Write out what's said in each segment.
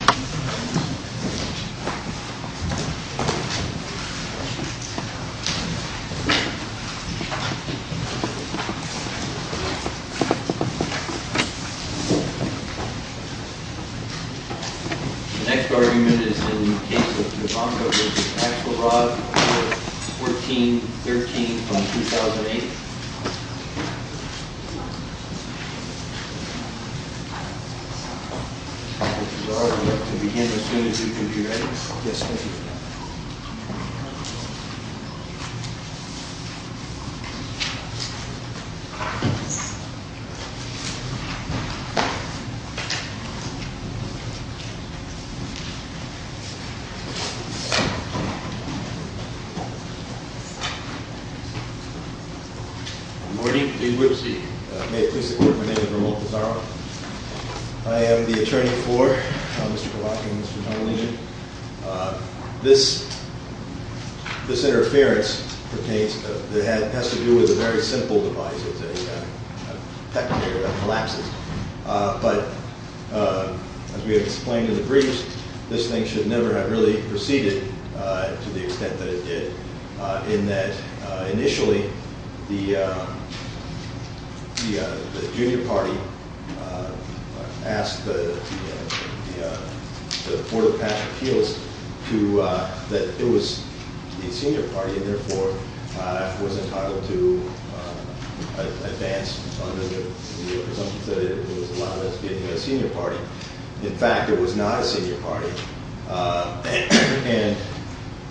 The next argument is in the case of Pivonka v. Axelrod, 14-13 from 2008. I would like to begin as soon as you can be ready. Yes, thank you. Good morning. May it please the court, my name is Ramon Pizarro. I am the attorney for Mr. Kovach and Mr. Tonolini. This interference has to do with a very simple device. It's a pectator that collapses. But as we have explained in the briefs, this thing should never have really proceeded to the extent that it did. Initially, the junior party asked the Court of Appeals that it was the senior party. Therefore, I was entitled to advance under the presumption that it was allowed to be a senior party. In fact, it was not a senior party. And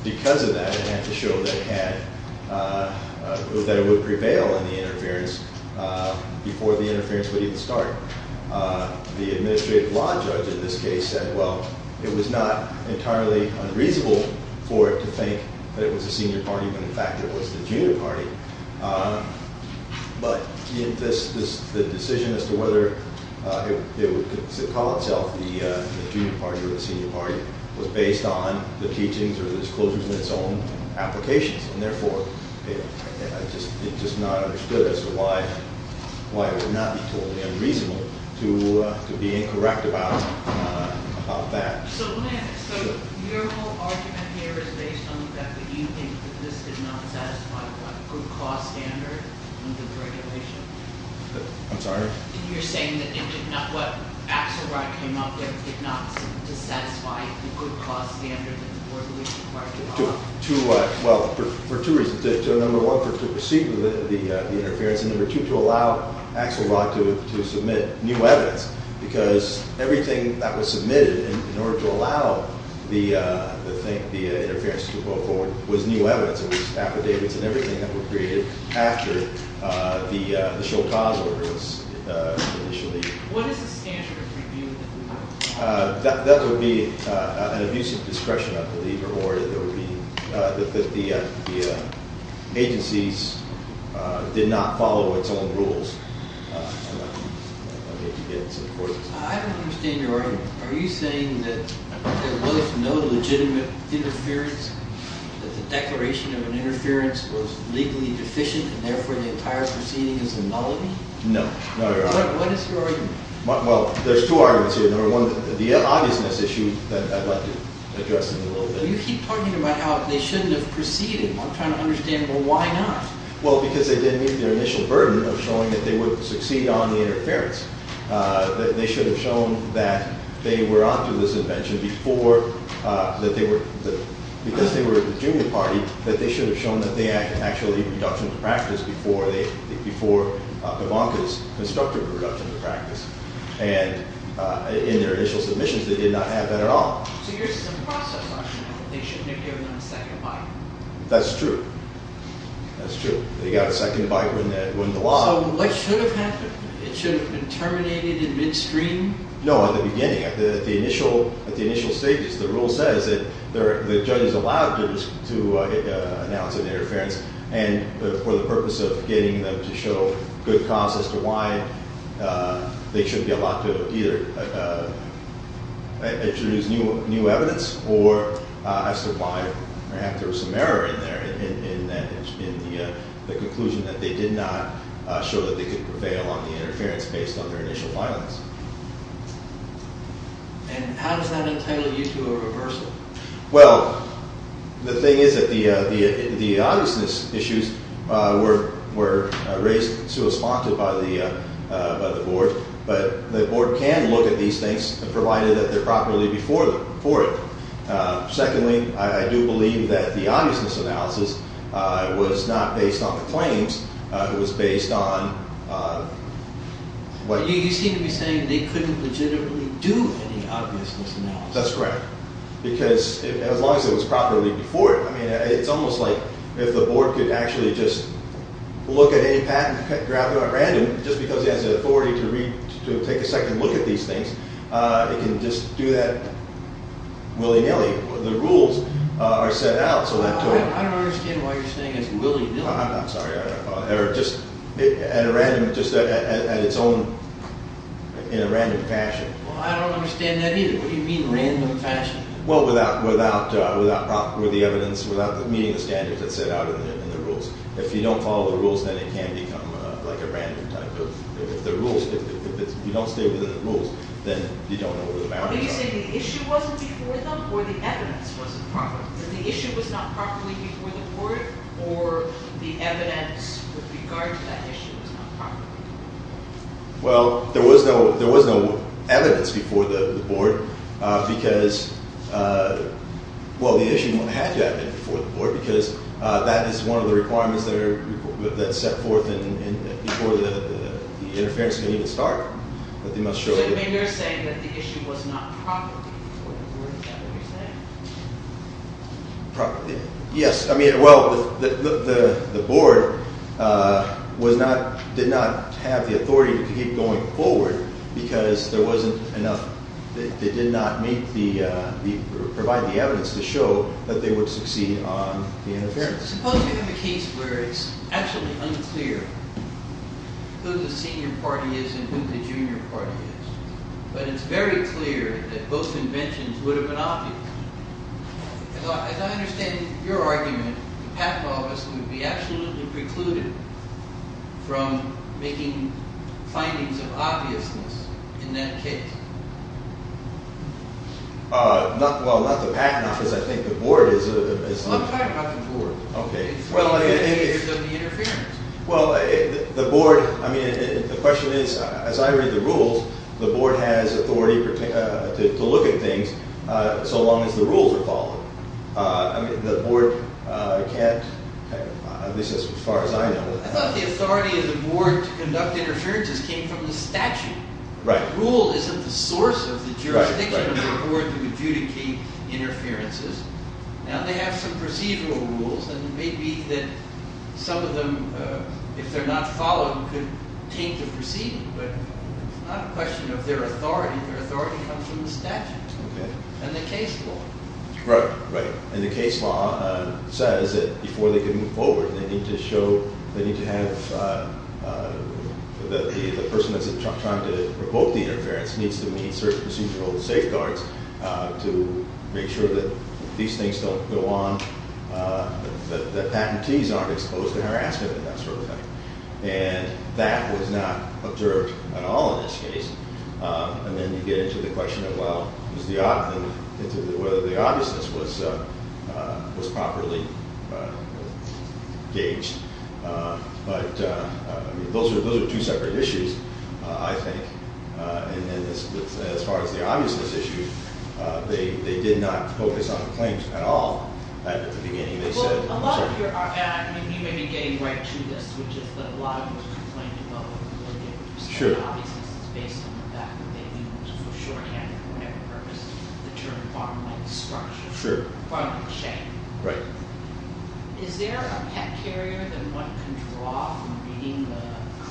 because of that, it had to show that it would prevail in the interference before the interference would even start. The administrative law judge in this case said, well, it was not entirely unreasonable for it to think that it was a senior party when in fact it was the junior party. But the decision as to whether it would call itself the junior party or the senior party was based on the teachings or the disclosures in its own applications. And therefore, it just not understood as to why it would not be totally unreasonable to be incorrect about that. So let me ask, so your whole argument here is based on the fact that you think that this did not satisfy what good cause standard and good regulation? I'm sorry? You're saying that it did not, what Axelrod came up with did not satisfy the good cause standard and the work we required to do? Well, for two reasons. Number one, to proceed with the interference. And number two, to allow Axelrod to submit new evidence. Because everything that was submitted in order to allow the interference to go forward was new evidence. It was affidavits and everything that was created after the show cause ordinance initially. What is the standard of review? That would be an abuse of discretion, I believe, or that the agencies did not follow its own rules. I don't understand your argument. Are you saying that there was no legitimate interference, that the declaration of an interference was legally deficient and therefore the entire proceeding is a nullity? No. What is your argument? Well, there's two arguments here. Number one, the obviousness issue that I'd like to address in a little bit. You keep talking about how they shouldn't have proceeded. I'm trying to understand, well, why not? Well, because they didn't meet their initial burden of showing that they would succeed on the interference. That they should have shown that they were up to this invention before, that they were, because they were a junior party, that they should have shown that they had actually a reduction in practice before Kavanka's constructive reduction in practice. And in their initial submissions, they did not have that at all. So you're saying the process function, they shouldn't have given them a second bite. That's true. That's true. If they got a second bite, it wouldn't have allowed it. So what should have happened? It should have been terminated in midstream? No, at the beginning. At the initial stages, the rule says that the judge is allowed to announce an interference, and for the purpose of getting them to show good cause as to why they should be allowed to either introduce new evidence or as to why perhaps there was some error in there. In the conclusion that they did not show that they could prevail on the interference based on their initial violence. And how does that entitle you to a reversal? Well, the thing is that the obviousness issues were raised, so it was sponsored by the board. But the board can look at these things, provided that they're properly before it. Secondly, I do believe that the obviousness analysis was not based on the claims. It was based on what... You seem to be saying they couldn't legitimately do any obviousness analysis. That's correct. Because as long as it was properly before it, I mean, it's almost like if the board could actually just look at any patent, grab it at random, just because it has the authority to take a second look at these things. It can just do that willy-nilly. The rules are set out so that... I don't understand why you're saying it's willy-nilly. I'm sorry. Or just at a random, just at its own, in a random fashion. Well, I don't understand that either. What do you mean random fashion? Well, without the evidence, without meeting the standards that's set out in the rules. If you don't follow the rules, then it can become like a random type of... If you don't stay within the rules, then you don't know where the boundaries are. Are you saying the issue wasn't before them or the evidence wasn't proper? That the issue was not properly before the board or the evidence with regard to that issue was not proper? Well, there was no evidence before the board because... Well, the issue had to have been before the board because that is one of the requirements that are set forth before the interference can even start. But they must show that... So you're saying that the issue was not properly before the board, is that what you're saying? Yes. I mean, well, the board was not, did not have the authority to keep going forward because there wasn't enough. They did not meet the, provide the evidence to show that they would succeed on the interference. Suppose we have a case where it's actually unclear who the senior party is and who the junior party is. But it's very clear that both inventions would have been obvious. As I understand your argument, the patent office would be absolutely precluded from making findings of obviousness in that case. Well, not the patent office, I think the board is... Well, I'm talking about the board. Okay. It's one of the initiators of the interference. Well, the board, I mean, the question is, as I read the rules, the board has authority to look at things so long as the rules are followed. I mean, the board can't, at least as far as I know... I thought the authority of the board to conduct interferences came from the statute. Right. Rule isn't the source of the jurisdiction of the board to adjudicate interferences. Now they have some procedural rules, and it may be that some of them, if they're not followed, could change the proceeding. But it's not a question of their authority. Their authority comes from the statute. Okay. And the case law. Right, right. And the case law says that before they can move forward, they need to show... They need to have... The person that's trying to provoke the interference needs to meet certain procedural safeguards to make sure that these things don't go on, that the patentees aren't exposed to harassment and that sort of thing. And that was not observed at all in this case. And then you get into the question of whether the obviousness was properly gauged. But those are two separate issues, I think. And as far as the obviousness issue, they did not focus on the claims at all at the beginning. Well, a lot of your... And you may be getting right to this, which is that a lot of what you're complaining about wasn't really understood. Sure. The obviousness is based on the fact that they used, for shorthand, for whatever purpose, the term farmland structure. Sure. Farmland shape. Right. Is there a pet carrier that one can draw from reading the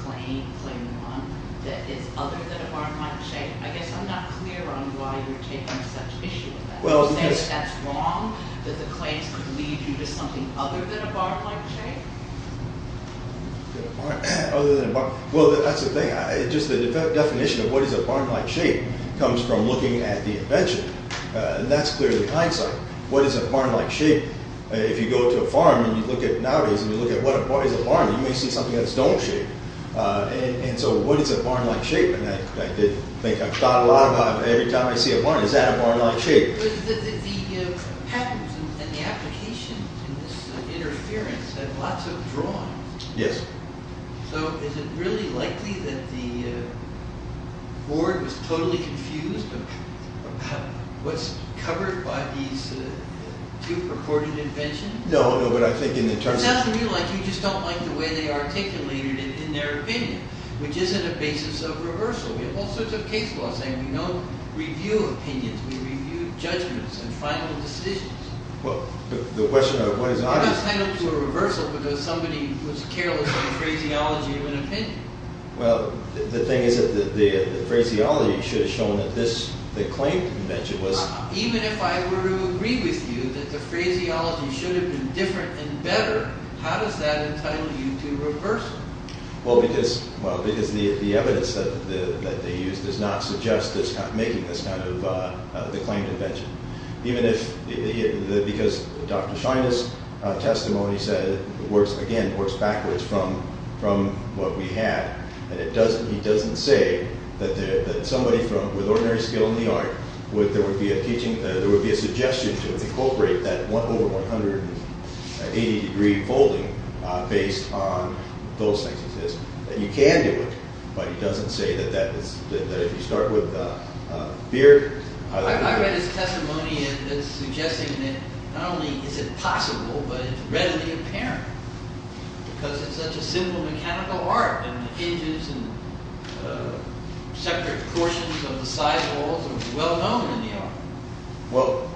claim, claim one, that is other than a farmland shape? I guess I'm not clear on why you're taking such issue with that. Well, because... Is that wrong, that the claims could lead you to something other than a farmland shape? Other than a farmland... Well, that's the thing. Just the definition of what is a farmland shape comes from looking at the invention. And that's clearly the hindsight. What is a farmland shape? If you go to a farm and you look at... Nowadays, when you look at what is a farm, you may see something that's dome-shaped. And so what is a farmland shape? And I did think... I've thought a lot about it. Every time I see a farm, is that a farmland shape? But the patterns and the application and this interference have lots of drawings. Yes. So is it really likely that the board was totally confused about what's covered by these two purported inventions? No, no, but I think in the terms of... It's not to me like you just don't like the way they articulated it in their opinion, which isn't a basis of reversal. We have all sorts of case laws saying we don't review opinions. We review judgments and final decisions. Well, the question of what is obvious... You're not entitled to a reversal because somebody was careless in the phraseology of an opinion. Well, the thing is that the phraseology should have shown that this... The claimed invention was... Even if I were to agree with you that the phraseology should have been different and better, how does that entitle you to reversal? Well, because the evidence that they use does not suggest making this kind of... The claimed invention. Even if... Because Dr. Shiner's testimony said, again, works backwards from what we had. And he doesn't say that somebody with ordinary skill in the art, there would be a suggestion to incorporate that 1 over 180 degree folding based on those things. And you can do it. But he doesn't say that if you start with fear... I read his testimony and it's suggesting that not only is it possible, but it's readily apparent. Because it's such a simple mechanical art. And the edges and separate portions of the side walls are well known in the art. Well,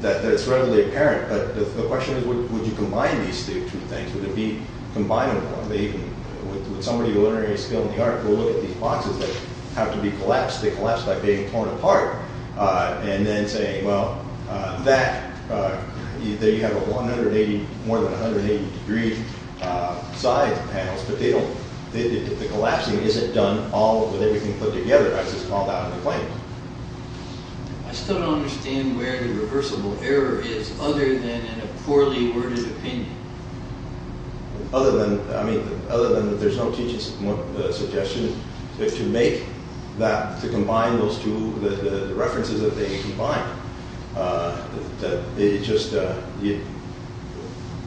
that it's readily apparent. But the question is, would you combine these two things? Would it be combinable? Would somebody with ordinary skill in the art go look at these boxes that have to be collapsed? They collapse by being torn apart. And then say, well, that... There you have a 180, more than 180 degree side panels. But they don't... The collapsing isn't done all with everything put together as it's called out in the claims. I still don't understand where the reversible error is other than in a poorly worded opinion. Other than... I mean, other than there's no teaching suggestion to make that... To combine those two... The references that they combined. That they just...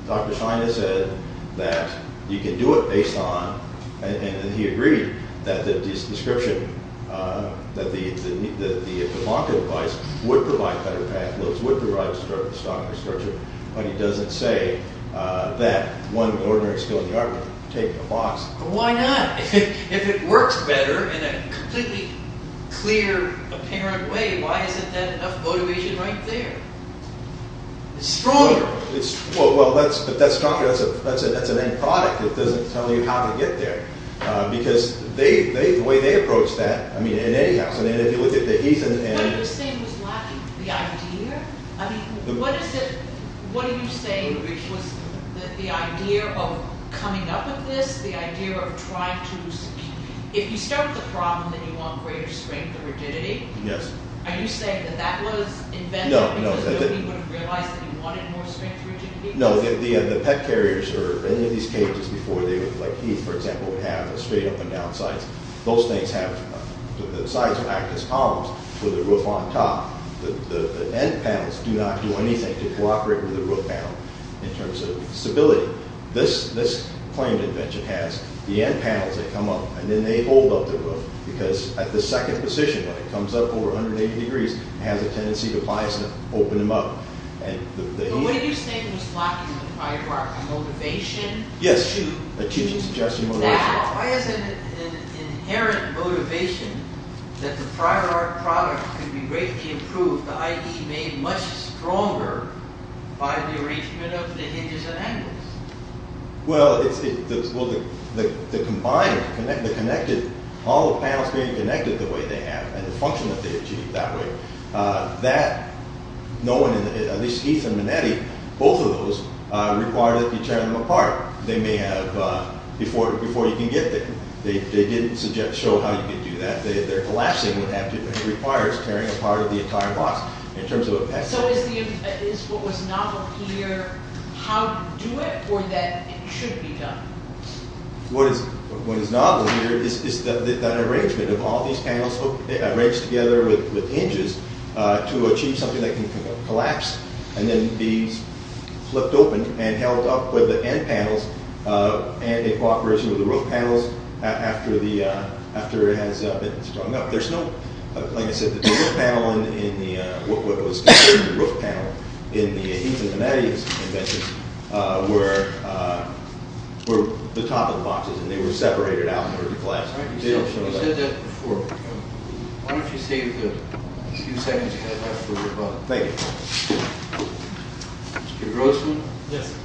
Dr. Shiner said that you can do it based on... And he agreed that the description... That the blocker device would provide better path loads, would provide stronger structure. But he doesn't say that one ordinary skill in the art would take the box. Why not? If it works better in a completely clear, apparent way, why isn't that enough motivation right there? It's stronger. Well, if that's stronger, that's an end product. It doesn't tell you how to get there. Because the way they approach that, I mean, in any house... What he was saying was lacking the idea. I mean, what is it... What he was saying was that the idea of coming up with this, the idea of trying to... If you start the problem and you want greater strength and rigidity, are you saying that that was invented... No, no. ...so that he would have realized that he wanted more strength, rigidity? No, the pet carriers or any of these cages before they would... Like he, for example, would have straight up and down sides. Those things have... The sides would act as columns with the roof on top. The end panels do not do anything to cooperate with the roof panel in terms of stability. This claimed invention has the end panels that come up, and then they hold up the roof. Because at the second position, when it comes up over 180 degrees, it has a tendency to bias and open them up. But what do you think was lacking in the prior art? A motivation? Yes, a teaching suggestion motivation. Why is it an inherent motivation that the prior art product could be greatly improved, the idea made much stronger by the arrangement of the hinges and angles? Well, the combined, the connected, all the panels being connected the way they have and the function that they achieve that way, that, knowing, at least Heath and Minetti, both of those required that you tear them apart. They may have, before you can get there, they didn't show how you could do that. Their collapsing would have to, it requires tearing apart the entire box in terms of a pet carrier. So is what was novel here how to do it, or that it should be done? What is novel here is the arrangement of all these panels, arranged together with hinges to achieve something that can collapse and then be flipped open and held up with the end panels and in cooperation with the roof panels after it has been strung up. There's no, like I said, the roof panel in the, what was considered the roof panel in the Heath and Minetti invention were the top of the boxes and they were separated out in order to collapse. You said that before. Why don't you save the few seconds you have left for your comment. Thank you. Mr. Grossman? Yes.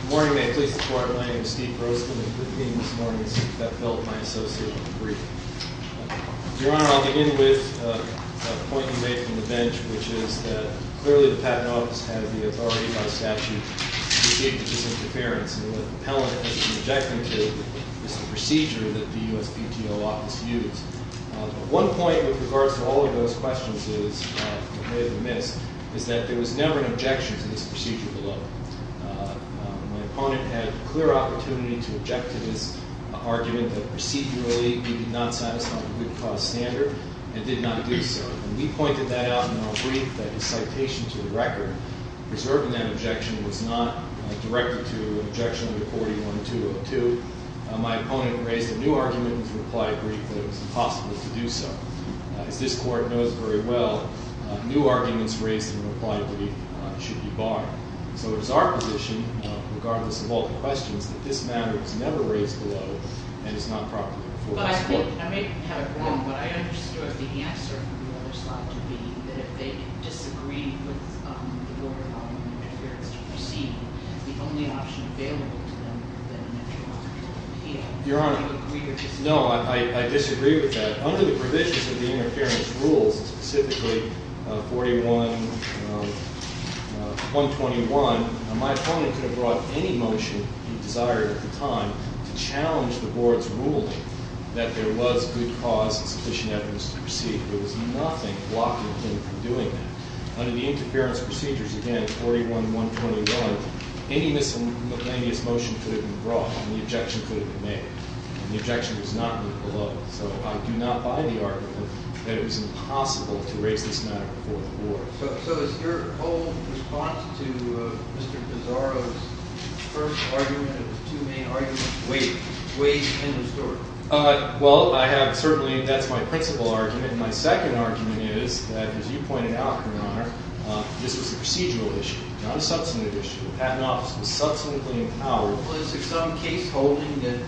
Good morning, may I please have the floor? My name is Steve Grossman. It's good to be here this morning. It's a pleasure to have Bill, my associate, with me. Your Honor, I'll begin with a point you made from the bench, which is that clearly the Patent Office has the authority by statute to negate this interference and what the appellant has been objecting to is the procedure that the USPTO Office used. One point with regards to all of those questions is, that may have been missed, is that there was never an objection to this procedure below. My opponent had clear opportunity to object to this argument that procedurally we did not satisfy the good cause standard and did not do so. And we pointed that out in our brief that his citation to the record, preserving that objection, was not directed to an objection to 41-202. My opponent raised a new argument in his reply brief that it was impossible to do so. As this Court knows very well, new arguments raised in a reply brief should be barred. So it is our position, regardless of all the questions, that this matter was never raised below and is not properly before this Court. But I think, I may have it wrong, but I understood the answer from the other side to be that if they disagreed with the order of interference to proceed, the only option available to them would then be to object to the appeal. Your Honor, no, I disagree with that. Under the provisions of the interference rules, specifically 41-121, my opponent could have brought any motion he desired at the time to challenge the Board's ruling that there was good cause and sufficient evidence to proceed. There was nothing blocking him from doing that. Under the interference procedures, again, 41-121, any miscellaneous motion could have been brought and the objection could have been made. The objection was not moved below. So I do not buy the argument that it was impossible to raise this matter before the Board. So is your whole response to Mr. Pissarro's first argument of the two main arguments, weight, weight in the story? Well, I have certainly, that's my principal argument. My second argument is that, as you pointed out, Your Honor, this was a procedural issue, not a substantive issue. The Patent Office was substantively empowered. Was there some case holding that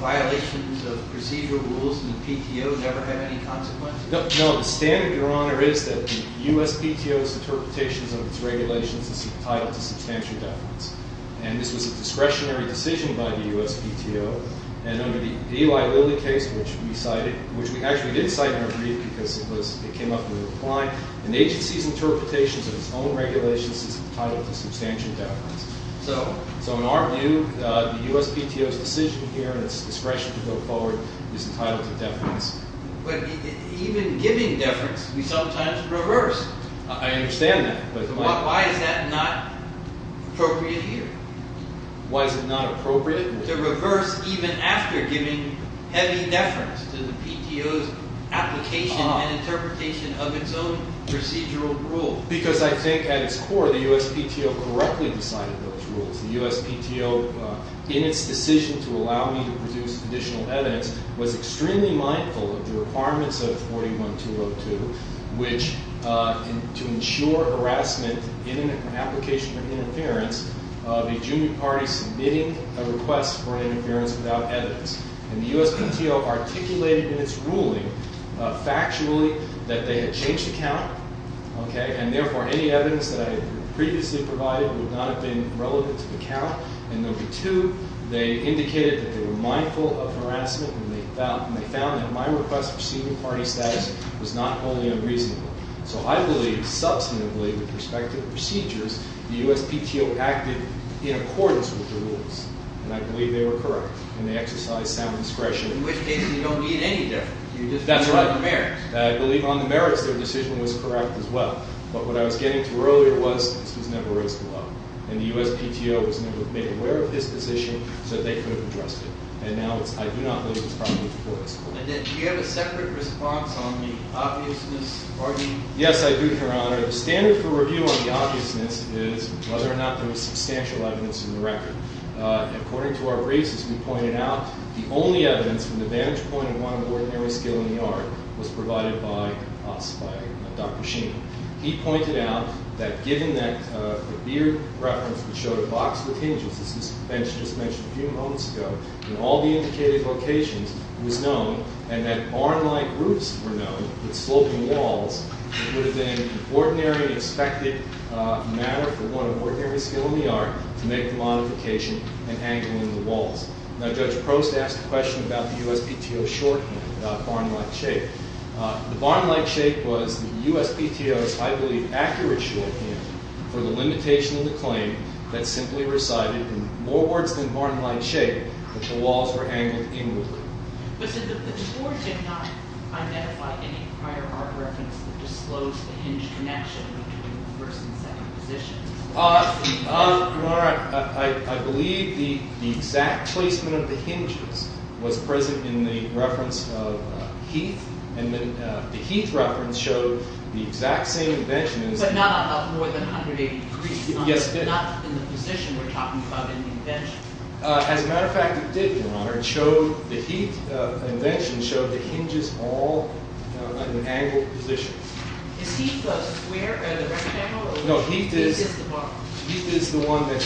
violations of procedural rules in the PTO never had any consequences? No. The standard, Your Honor, is that the U.S. PTO's interpretations of its regulations is entitled to substantial deference. And this was a discretionary decision by the U.S. PTO. And under the Eli Lilly case, which we cited, which we actually did cite in our brief because it came up in the reply, an agency's interpretations of its own regulations is entitled to substantial deference. So? So in our view, the U.S. PTO's decision here and its discretion to go forward is entitled to deference. But even giving deference, we sometimes reverse. I understand that. But why is that not appropriate here? Why is it not appropriate? To reverse even after giving heavy deference to the PTO's application and interpretation of its own procedural rule. Because I think at its core, the U.S. PTO correctly decided those rules. The U.S. PTO, in its decision to allow me to produce additional evidence, was extremely mindful of the requirements of 41-202, which, to ensure harassment in an application for interference, of a junior party submitting a request for interference without evidence. And the U.S. PTO articulated in its ruling factually that they had changed the count, and therefore any evidence that I had previously provided would not have been relevant to the count. And number two, they indicated that they were mindful of harassment and they found that my request for senior party status was not only unreasonable. So I believe, substantively, with respect to the procedures, the U.S. PTO acted in accordance with the rules. And I believe they were correct. And they exercised sound discretion. In which case, you don't need any deference. That's right. You just need the merits. And I believe on the merits their decision was correct as well. But what I was getting to earlier was that this was never raised to the law. And the U.S. PTO was never made aware of this decision so that they could have addressed it. And now I do not believe it was properly explored. And then do you have a separate response on the obviousness? Yes, I do, Your Honor. The standard for review on the obviousness is whether or not there was substantial evidence in the record. According to our briefs, as we pointed out, the only evidence from the vantage point of one of ordinary skill in the art was provided by us, by Dr. Sheehan. He pointed out that given that the Beard reference which showed a box with hinges, as this bench just mentioned a few moments ago, in all the indicated locations was known, and that barn-like roofs were known with sloping walls, it would have been an ordinary expected matter for one of ordinary skill in the art to make the modification in angling the walls. Now, Judge Prost asked a question about the U.S. PTO's shorthand, about barn-like shape. The barn-like shape was the U.S. PTO's, I believe, accurate shorthand for the limitation of the claim that simply recited in more words than barn-like shape that the walls were angled inwardly. But, sir, the tour did not identify any prior art reference that disclosed the hinged connection between the first and second positions. Your Honor, I believe the exact placement of the hinges was present in the reference of Heath, and the Heath reference showed the exact same invention as... But not at more than 180 degrees. Yes, it did. Not in the position we're talking about in the invention. As a matter of fact, it did, Your Honor. The Heath invention showed the hinges all at an angled position. Is Heath a square at a right angle? No, Heath is... Heath is the one that...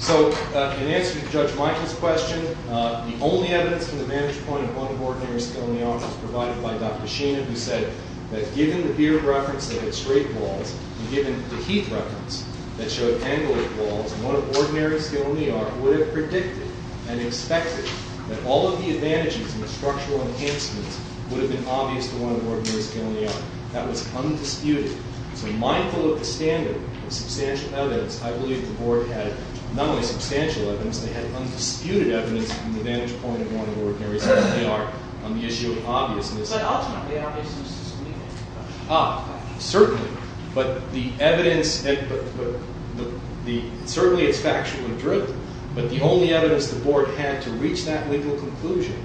So, in answer to Judge Michael's question, the only evidence from the vantage point of one of ordinary skill in the art was provided by Dr. Sheena, who said that, given the beer reference that had straight walls, and given the Heath reference that showed angled walls, one of ordinary skill in the art would have predicted and expected that all of the advantages and the structural enhancements would have been obvious to one of ordinary skill in the art. That was undisputed. So, mindful of the standard of substantial evidence, I believe the Board had not only substantial evidence, they had undisputed evidence from the vantage point of one of ordinary skill in the art on the issue of obviousness. But ultimately, obviousness is meaningless. Ah, certainly. But the evidence... Certainly, it's factual and true, but the only evidence the Board had to reach that legal conclusion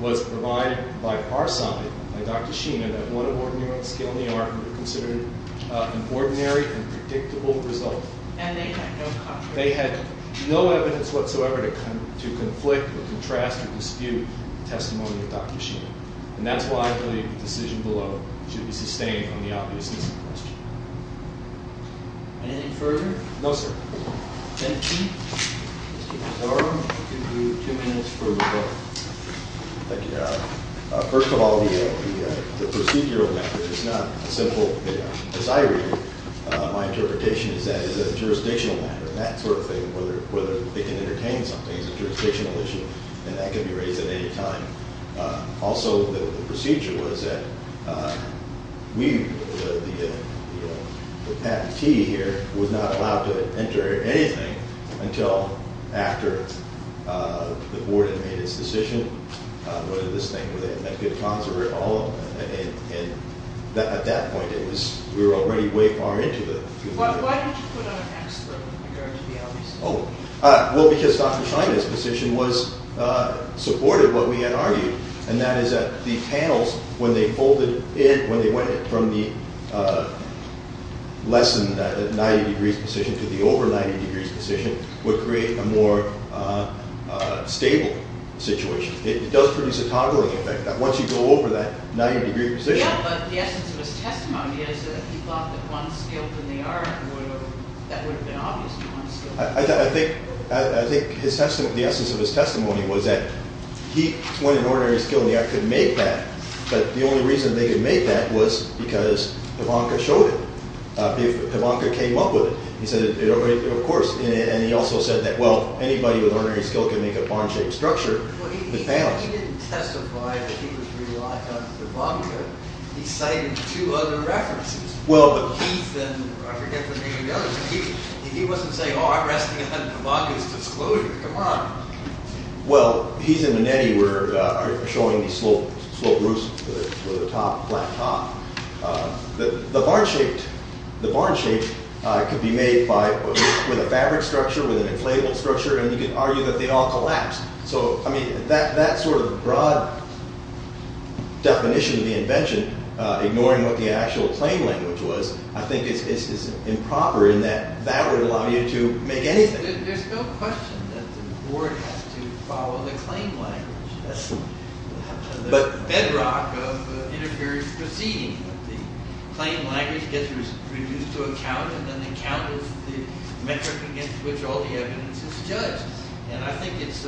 was provided by our side, by Dr. Sheena, that one of ordinary skill in the art would have considered an ordinary and predictable result. And they had no concrete... They had no evidence whatsoever to conflict or contrast or dispute the testimony of Dr. Sheena. And that's why I believe the decision below should be sustained on the obviousness of the question. Anything further? No, sir. Thank you. First of all, the procedural matter is not a simple... As I read it, my interpretation is that it's a jurisdictional matter, and that sort of thing, whether they can entertain something is a jurisdictional issue, and that can be raised at any time. Also, the procedure was that we, the patentee here, was not allowed to enter anything until after the Board had made its decision whether this thing was a good conservator at all. And at that point, it was... We were already way far into the... Why don't you put on an expert in regards to the LBC? Oh. Well, because Dr. Sheena's position was supportive of what we had argued, and that is that the panels, when they folded in, when they went from the less-than-90-degrees position to the over-90-degrees position, would create a more stable situation. It does produce a toggling effect, that once you go over that 90-degree position... Yeah, but the essence of his testimony is that he thought that one skilled in the art would have... That would have been obvious to one skilled. I think the essence of his testimony was that he went in ordinary skill in the art, couldn't make that, but the only reason they could make that was because Pivanka showed it. Pivanka came up with it. He said, of course. And he also said that, well, anybody with ordinary skill can make a barn-shaped structure with panels. Well, he didn't testify that he was relying on Pivanka. He cited two other references. Well, but... Heath and... I forget the name of the other. He wasn't saying, oh, I'm resting on Pivanka's disclosure. Come on. Well, Heath and Manetti were showing these slow roofs with a flat top. The barn-shaped could be made with a fabric structure, with an inflatable structure, and you could argue that they'd all collapse. So, I mean, that sort of broad definition of the invention, ignoring what the actual claim language was, I think is improper in that that would allow you to make anything. There's no question that the board has to follow the claim language. That's the bedrock of interference proceeding. The claim language gets reduced to a count, and then the count is the metric against which all the evidence is judged. And I think it's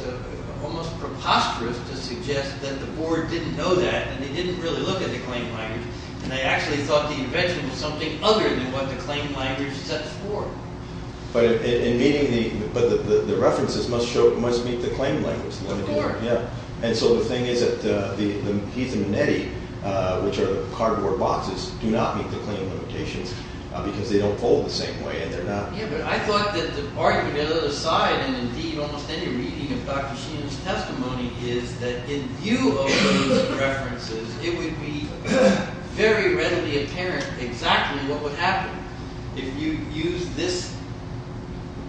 almost preposterous to suggest that the board didn't know that, and they didn't really look at the claim language, and they actually thought the invention was something other than what the claim language sets forth. But the references must meet the claim language. Of course. And so the thing is that Heath and Manetti, which are the cardboard boxes, do not meet the claim limitations because they don't fold the same way, and they're not... Yeah, but I thought that the argument on the other side, and indeed almost any reading of Dr. Sheehan's testimony, is that in view of those references, it would be very readily apparent exactly what would happen if you used this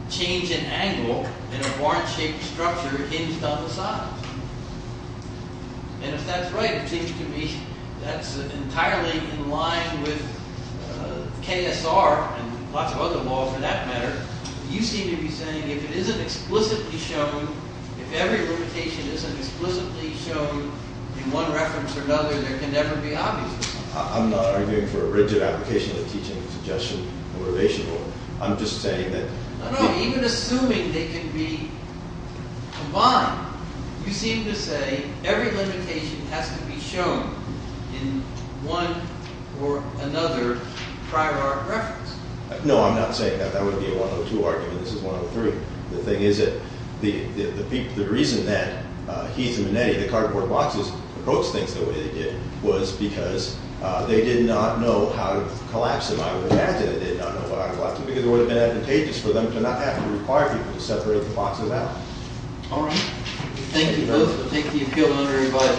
change in angle in a horn-shaped structure hinged on the sides. And if that's right, it seems to me that's entirely in line with KSR and lots of other law for that matter. You seem to be saying if it isn't explicitly shown, if every limitation isn't explicitly shown in one reference or another, there can never be obviousness. I'm not arguing for a rigid application of teaching suggestion motivation rule. I'm just saying that... No, even assuming they can be combined, you seem to say every limitation has to be shown in one or another prior reference. No, I'm not saying that. That would be a 102 argument. This is 103. The thing is that the reason that Heath and Manetti, the cardboard boxes, approached things the way they did was because they did not know how to collapse them. I would imagine they did not know how to collapse them because it would have been advantageous for them to not have to require people to separate the boxes out. All right. Thank you both. We'll take the appeal under review.